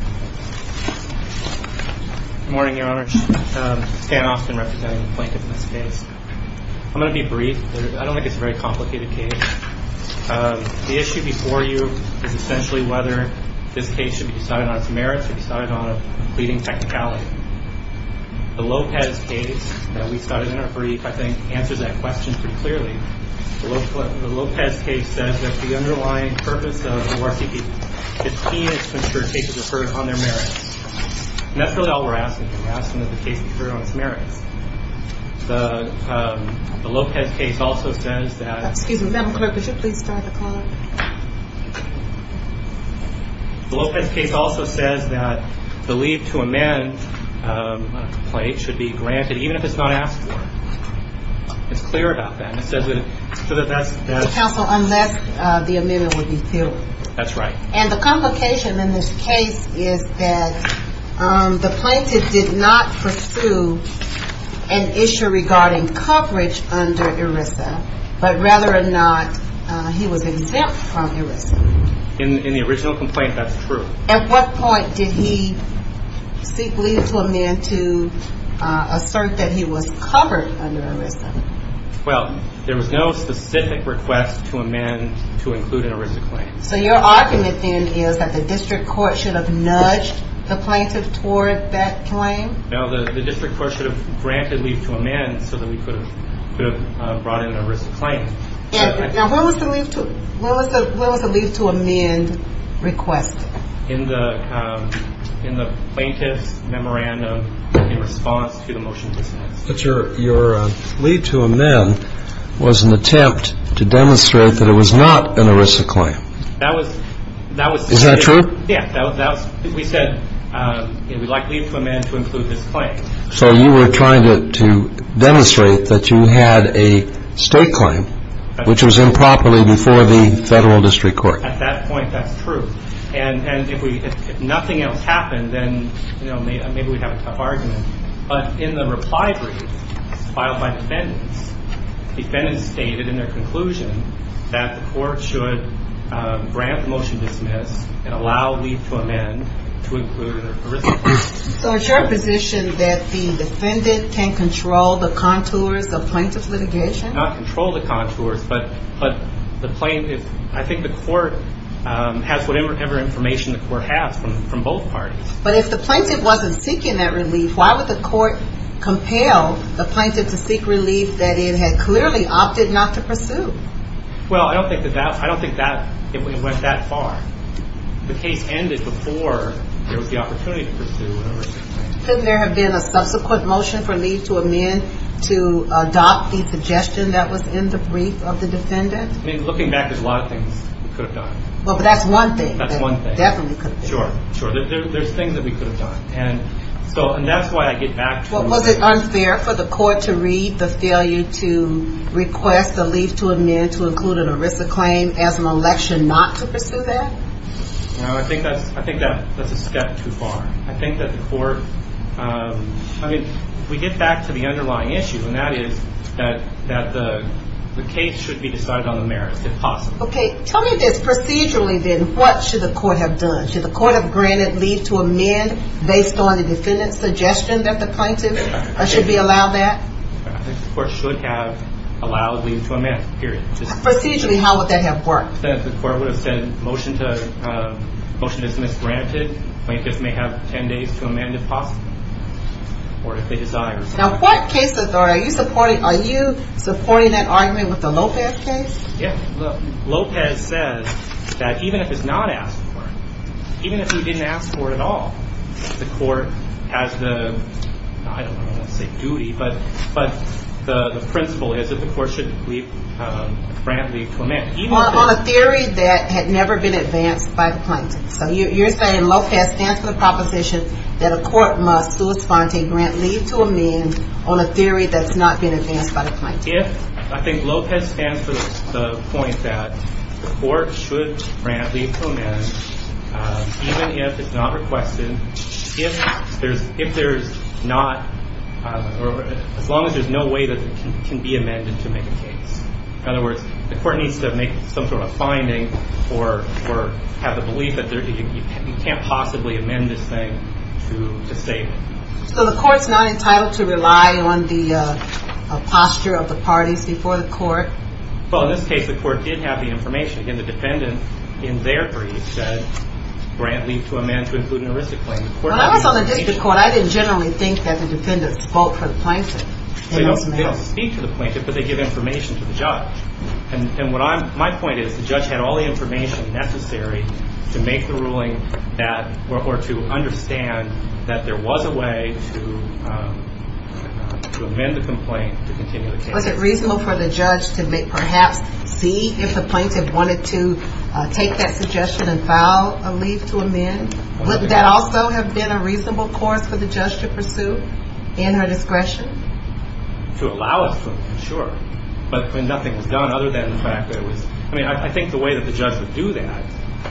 I'm going to be brief. I don't think it's a very complicated case. The issue before you is essentially whether this case should be decided on its merits or decided on a pleading technicality. The Lopez case that we started in our brief, I think, answers that question pretty clearly. The Lopez case says that the underlying purpose of ORTP 15 is to ensure cases are heard on their merits. And that's really all we're asking. We're asking that the case be heard on its merits. The Lopez case also says that the leave to amend should be granted, even if it's not asked for. It's clear about that. Counsel, unless the amendment would be filled. That's right. And the complication in this case is that the plaintiff did not pursue an issue regarding coverage under ERISA, but rather or not, he was exempt from ERISA. In the original complaint, that's true. At what point did he seek leave to amend to assert that he was covered under ERISA? Well, there was no specific request to amend to include an ERISA claim. So your argument then is that the district court should have nudged the plaintiff toward that claim? No, the district court should have granted leave to amend so that we could have brought in an ERISA claim. Now, where was the leave to amend request? In the plaintiff's memorandum in response to the motion to dismiss. But your leave to amend was an attempt to demonstrate that it was not an ERISA claim. Is that true? Yeah. We said we'd like leave to amend to include this claim. So you were trying to demonstrate that you had a state claim, which was improperly before the federal district court. At that point, that's true. And if nothing else happened, then maybe we'd have a tough argument. But in the reply brief filed by defendants, defendants stated in their conclusion that the court should grant the motion to dismiss and allow leave to amend to include an ERISA claim. So is your position that the defendant can control the contours of plaintiff's litigation? Not control the contours, but I think the court has whatever information the court has from both parties. But if the plaintiff wasn't seeking that relief, why would the court compel the plaintiff to seek relief that it had clearly opted not to pursue? Well, I don't think it went that far. The case ended before there was the opportunity to pursue an ERISA claim. Couldn't there have been a subsequent motion for leave to amend to adopt the suggestion that was in the brief of the defendant? I mean, looking back, there's a lot of things we could have done. Well, but that's one thing. That's one thing. That definitely could have been. Sure, sure. There's things that we could have done. And so, and that's why I get back to the... No, I think that's a step too far. I think that the court, I mean, we get back to the underlying issue, and that is that the case should be decided on the merits, if possible. Okay, tell me this, procedurally then, what should the court have done? Should the court have granted leave to amend based on the defendant's suggestion that the plaintiff should be allowed that? I think the court should have allowed leave to amend, period. Procedurally, how would that have worked? The court would have said motion to dismiss granted. Plaintiffs may have 10 days to amend, if possible, or if they desire. Now, court cases, are you supporting that argument with the Lopez case? Yeah. Lopez says that even if it's not asked for, even if he didn't ask for it at all, the court has the, I don't want to say duty, but the principle is that the court should grant leave to amend. On a theory that had never been advanced by the plaintiff. So you're saying Lopez stands for the proposition that a court must do a grant leave to amend on a theory that's not been advanced by the plaintiff. I think Lopez stands for the point that the court should grant leave to amend, even if it's not requested, if there's not, as long as there's no way that it can be amended to make a case. In other words, the court needs to make some sort of finding or have the belief that you can't possibly amend this thing to save it. So the court's not entitled to rely on the posture of the parties before the court? Well, in this case, the court did have the information. Again, the defendant, in their brief, said grant leave to amend to include an aristic claim. When I was on the district court, I didn't generally think that the defendants vote for the plaintiff. They don't speak to the plaintiff, but they give information to the judge. And my point is the judge had all the information necessary to make the ruling or to understand that there was a way to amend the complaint to continue the case. Was it reasonable for the judge to perhaps see if the plaintiff wanted to take that suggestion and file a leave to amend? Would that also have been a reasonable course for the judge to pursue in her discretion? To allow us to, sure. But when nothing was done other than the fact that it was – I mean, I think the way that the judge would do that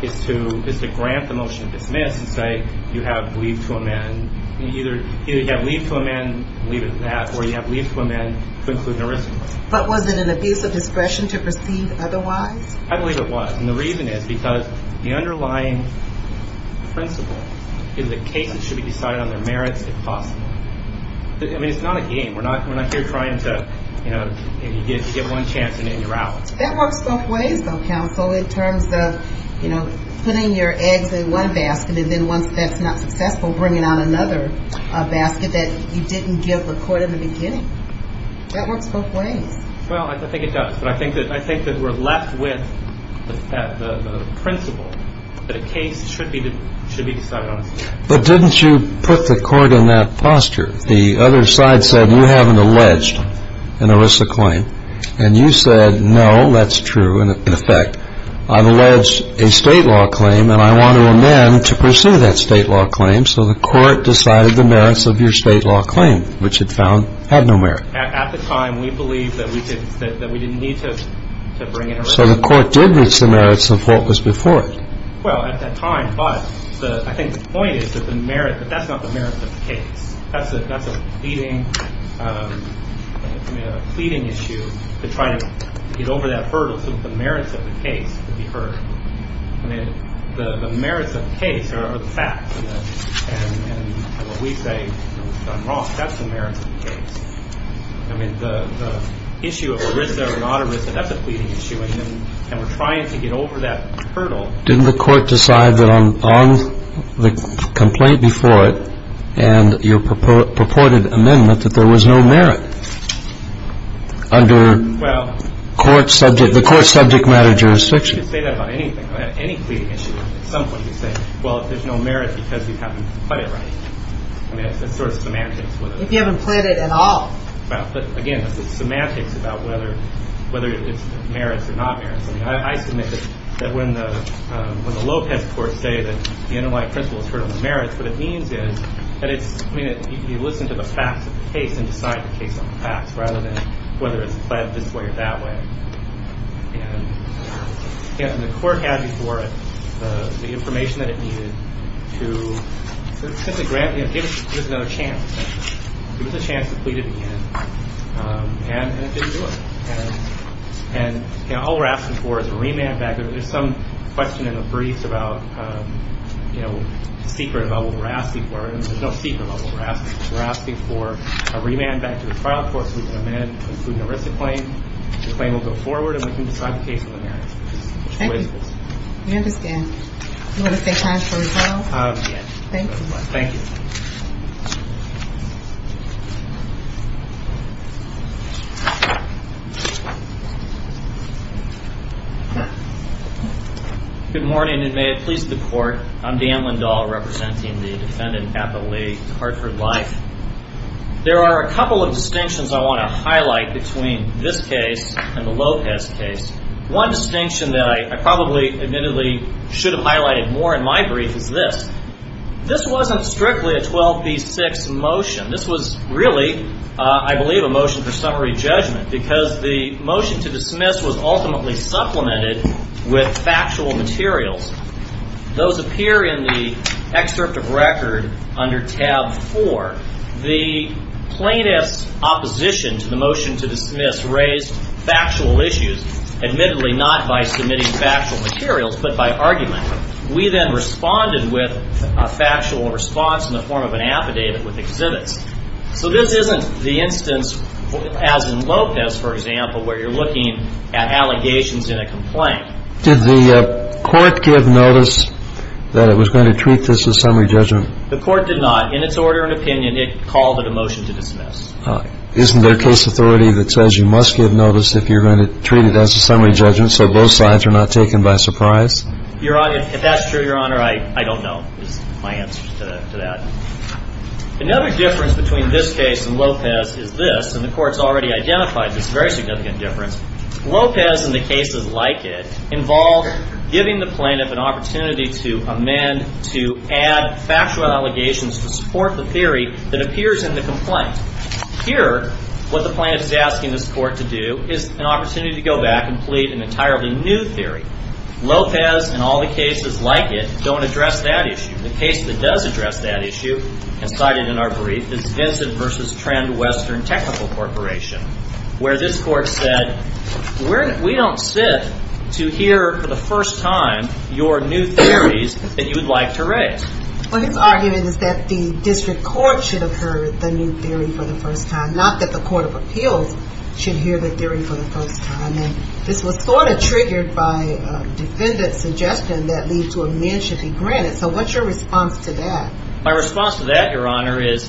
is to grant the motion to dismiss and say you have leave to amend – either you have leave to amend, leave it at that, or you have leave to amend to include an aristic claim. But was it an abuse of discretion to proceed otherwise? I believe it was. And the reason is because the underlying principle is that cases should be decided on their merits if possible. I mean, it's not a game. We're not here trying to give one chance and then you're out. That works both ways, though, counsel, in terms of putting your eggs in one basket and then once that's not successful, bringing out another basket that you didn't give the court in the beginning. That works both ways. Well, I think it does. But I think that we're left with the principle that a case should be decided on its merits. But didn't you put the court in that posture? The other side said you have an alleged an aristic claim. And you said no, that's true, in effect. I've alleged a state law claim and I want to amend to pursue that state law claim. So the court decided the merits of your state law claim, which it found had no merit. At the time, we believed that we didn't need to bring it around. So the court did reach the merits of what was before it? Well, at that time, but I think the point is that that's not the merits of the case. That's a pleading issue to try to get over that hurdle so that the merits of the case could be heard. The merits of the case are the facts. And when we say I'm wrong, that's the merits of the case. I mean, the issue of arista or not arista, that's a pleading issue. And we're trying to get over that hurdle. Didn't the court decide that on the complaint before it and your purported amendment that there was no merit under the court subject matter jurisdiction? You could say that about anything, any pleading issue. At some point, you say, well, there's no merit because we haven't put it right. I mean, it's sort of semantics. If you haven't played it at all. But again, it's semantics about whether it's merits or not merits. I mean, I submit that when the Lopez court say that the underlying principle is heard on the merits, what it means is that it's, I mean, you listen to the facts of the case and decide the case on the facts rather than whether it's pled this way or that way. And the court had before it the information that it needed to grant another chance. It was a chance to plead it again. And it didn't do it. And all we're asking for is a remand back. There's some question in a brief about, you know, secret about what we're asking for. There's no secret about what we're asking for. We're asking for a remand back to the trial court. The claim will go forward and we can decide the case on the merits. Good morning and may it please the court. I'm Dan Lindahl representing the defendant at the Lake Hartford Life. There are a couple of distinctions I want to highlight between this case and the Lopez case. One distinction that I probably admittedly should have highlighted more in my brief is this. This wasn't strictly a 12 v. 6 motion. This was really, I believe, a motion for summary judgment because the motion to dismiss was ultimately supplemented with factual materials. Those appear in the excerpt of record under tab 4. The plaintiff's opposition to the motion to dismiss raised factual issues, admittedly not by submitting factual materials but by argument. We then responded with a factual response in the form of an affidavit with exhibits. So this isn't the instance as in Lopez, for example, where you're looking at allegations in a complaint. Did the court give notice that it was going to treat this as summary judgment? The court did not. In its order and opinion, it called it a motion to dismiss. Isn't there case authority that says you must give notice if you're going to treat it as a summary judgment so both sides are not taken by surprise? Your Honor, if that's true, Your Honor, I don't know is my answer to that. Another difference between this case and Lopez is this, and the court's already identified this very significant difference. Lopez and the cases like it involve giving the plaintiff an opportunity to amend, to add factual allegations to support the theory that appears in the complaint. Here, what the plaintiff is asking this court to do is an opportunity to go back and plead an entirely new theory. Lopez and all the cases like it don't address that issue. The case that does address that issue, as cited in our brief, is Vincent v. Trend Western Technical Corporation, where this court said we don't sit to hear for the first time your new theories that you would like to raise. What it's arguing is that the district court should have heard the new theory for the first time, not that the court of appeals should hear the theory for the first time. This was sort of triggered by a defendant's suggestion that leave to amend should be granted. So what's your response to that? My response to that, Your Honor, is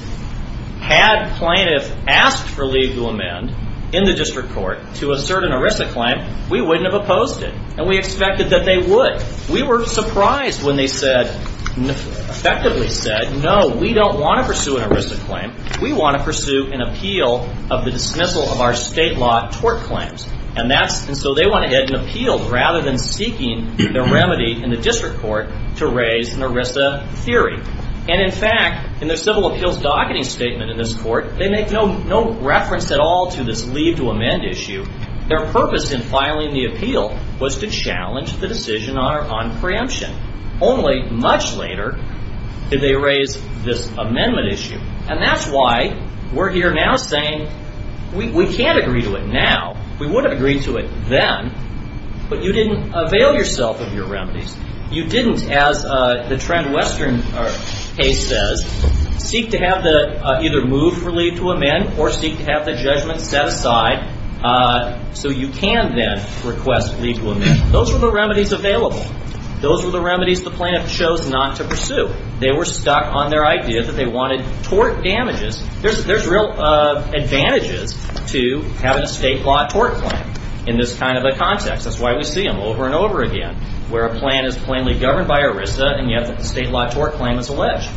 had plaintiffs asked for leave to amend in the district court to assert an ERISA claim, we wouldn't have opposed it. And we expected that they would. We were surprised when they said, effectively said, no, we don't want to pursue an ERISA claim. We want to pursue an appeal of the dismissal of our state law tort claims. And so they went ahead and appealed rather than seeking the remedy in the district court to raise an ERISA theory. And in fact, in their civil appeals docketing statement in this court, they make no reference at all to this leave to amend issue. Their purpose in filing the appeal was to challenge the decision on preemption. Only much later did they raise this amendment issue. And that's why we're here now saying we can't agree to it now. We would have agreed to it then. But you didn't avail yourself of your remedies. You didn't, as the trend western case says, seek to have the either move for leave to amend or seek to have the judgment set aside so you can then request leave to amend. Those were the remedies available. So they were stuck on their idea that they wanted tort damages. There's real advantages to having a state law tort claim in this kind of a context. That's why we see them over and over again where a plan is plainly governed by ERISA and yet the state law tort claim is alleged.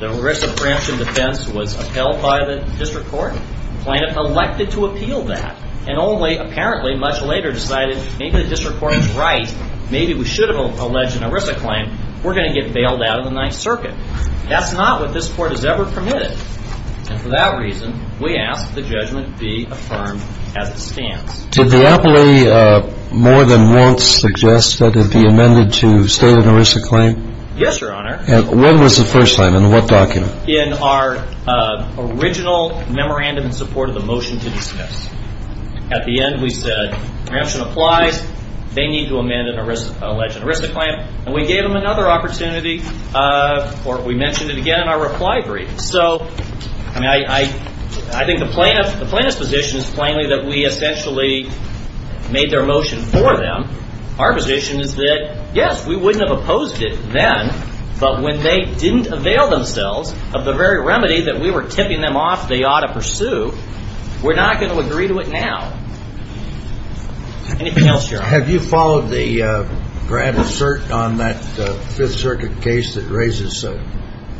The ERISA preemption defense was upheld by the district court. The plaintiff elected to appeal that and only apparently much later decided maybe the district court was right. Maybe we should have alleged an ERISA claim. We're going to get bailed out of the Ninth Circuit. That's not what this court has ever permitted. And for that reason, we ask that the judgment be affirmed as it stands. Did the appellee more than once suggest that it be amended to state an ERISA claim? Yes, Your Honor. When was the first time? In what document? In our original memorandum in support of the motion to dismiss. At the end we said preemption applies. They need to amend an alleged ERISA claim. And we gave them another opportunity or we mentioned it again in our reply brief. So I think the plaintiff's position is plainly that we essentially made their motion for them. Our position is that, yes, we wouldn't have opposed it then, but when they didn't avail themselves of the very remedy that we were tipping them off they ought to pursue, we're not going to agree to it now. Anything else, Your Honor? Have you followed the grant assert on that Fifth Circuit case that raises a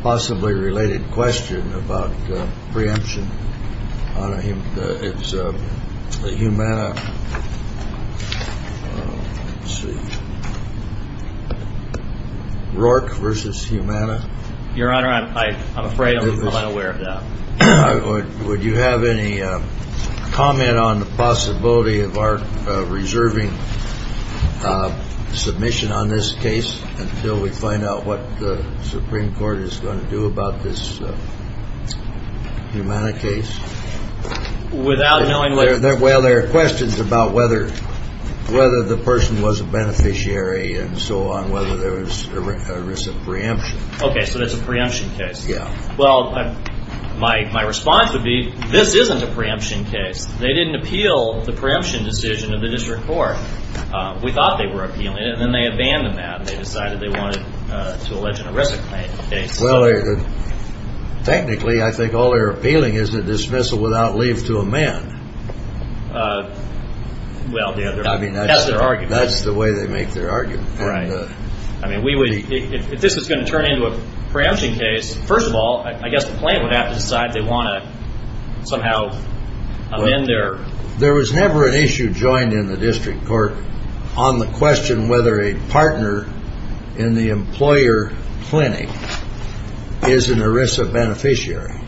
possibly related question about preemption? It's the Humana. Let's see. Rourke v. Humana. Your Honor, I'm afraid I'm unaware of that. Would you have any comment on the possibility of our reserving submission on this case until we find out what the Supreme Court is going to do about this Humana case? Well, there are questions about whether the person was a beneficiary and so on, whether there was ERISA preemption. Okay, so it's a preemption case. Yeah. Well, my response would be this isn't a preemption case. They didn't appeal the preemption decision of the district court. We thought they were appealing it, and then they abandoned that and they decided they wanted to allege an ERISA case. Well, technically I think all they're appealing is a dismissal without leave to amend. Well, that's their argument. That's the way they make their argument. I mean, if this was going to turn into a preemption case, first of all, I guess the plaintiff would have to decide they want to somehow amend their… There was never an issue joined in the district court on the question whether a partner in the employer clinic is an ERISA beneficiary,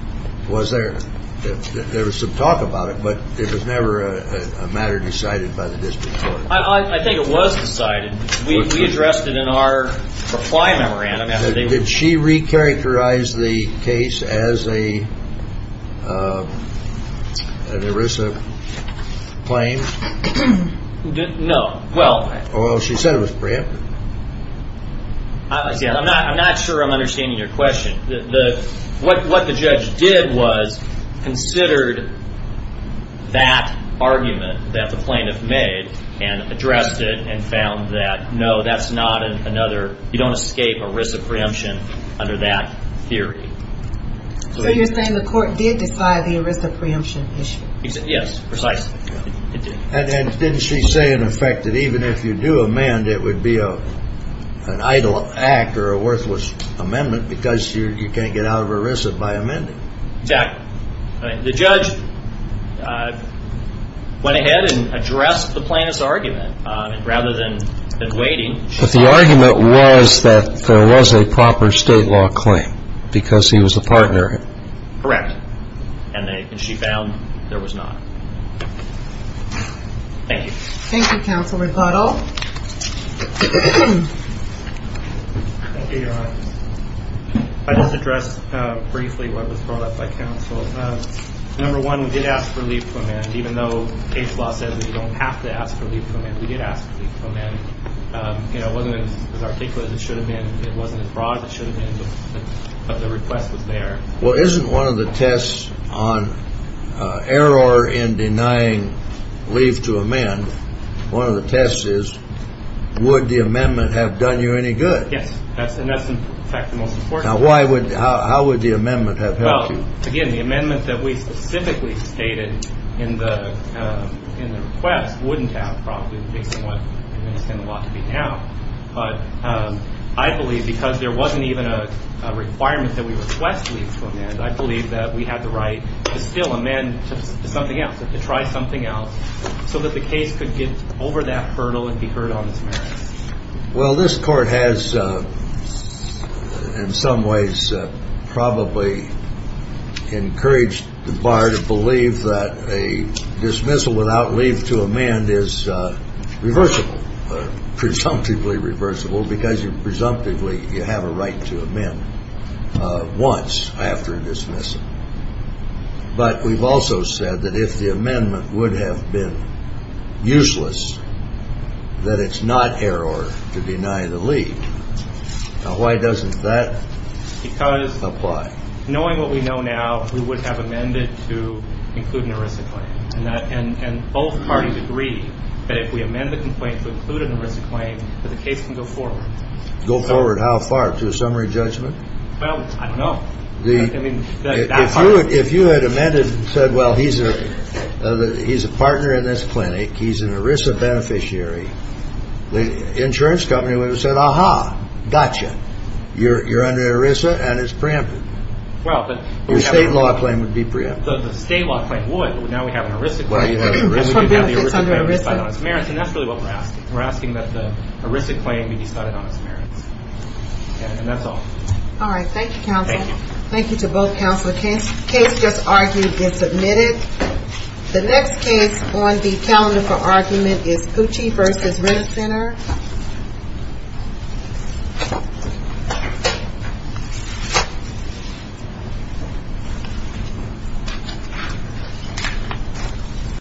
was there? There was some talk about it, but it was never a matter decided by the district court. I think it was decided. We addressed it in our reply memorandum. Did she recharacterize the case as an ERISA claim? No. Well, she said it was preempted. I'm not sure I'm understanding your question. What the judge did was considered that argument that the plaintiff made and addressed it and found that, no, that's not another. You don't escape ERISA preemption under that theory. So you're saying the court did decide the ERISA preemption issue? Yes, precisely. And didn't she say, in effect, that even if you do amend, it would be an idle act or a worthless amendment because you can't get out of ERISA by amending? Exactly. The judge went ahead and addressed the plaintiff's argument rather than waiting. But the argument was that there was a proper state law claim because he was a partner. Correct. And she found there was not. Thank you. Thank you, Counsel Repuddle. I just addressed briefly what was brought up by counsel. Number one, we did ask for leave to amend. Even though case law says that you don't have to ask for leave to amend, we did ask for leave to amend. It wasn't as articulate as it should have been. It wasn't as broad as it should have been, but the request was there. Well, isn't one of the tests on error in denying leave to amend, one of the tests is would the amendment have done you any good? And that's, in fact, the most important. Now, how would the amendment have helped you? Well, again, the amendment that we specifically stated in the request wouldn't have probably been what it's going to be now. But I believe because there wasn't even a requirement that we request leave to amend, I believe that we had the right to still amend to something else, to try something else so that the case could get over that hurdle and be heard on its merits. Well, this court has, in some ways, probably encouraged the bar to believe that a dismissal without leave to amend is reversible, presumptively reversible, because presumptively you have a right to amend once after dismissal. But we've also said that if the amendment would have been useless, that it's not error to deny the leave. Now, why doesn't that apply? Because knowing what we know now, we would have amended to include an ERISA claim. And both parties agree that if we amend the complaint to include an ERISA claim, that the case can go forward. Go forward how far, to a summary judgment? Well, I don't know. I mean, that far. If you had amended and said, well, he's a partner in this clinic, he's an ERISA beneficiary, the insurance company would have said, aha, gotcha, you're under ERISA and it's preempted. Your state law claim would be preempted. The state law claim would, but now we have an ERISA claim. You have the ERISA claim decided on its merits, and that's really what we're asking. We're asking that the ERISA claim be decided on its merits. And that's all. All right, thank you, Counselor. Thank you. Thank you to both Counselors. The case just argued is submitted. The next case on the calendar for argument is Pucci v. Renner Center.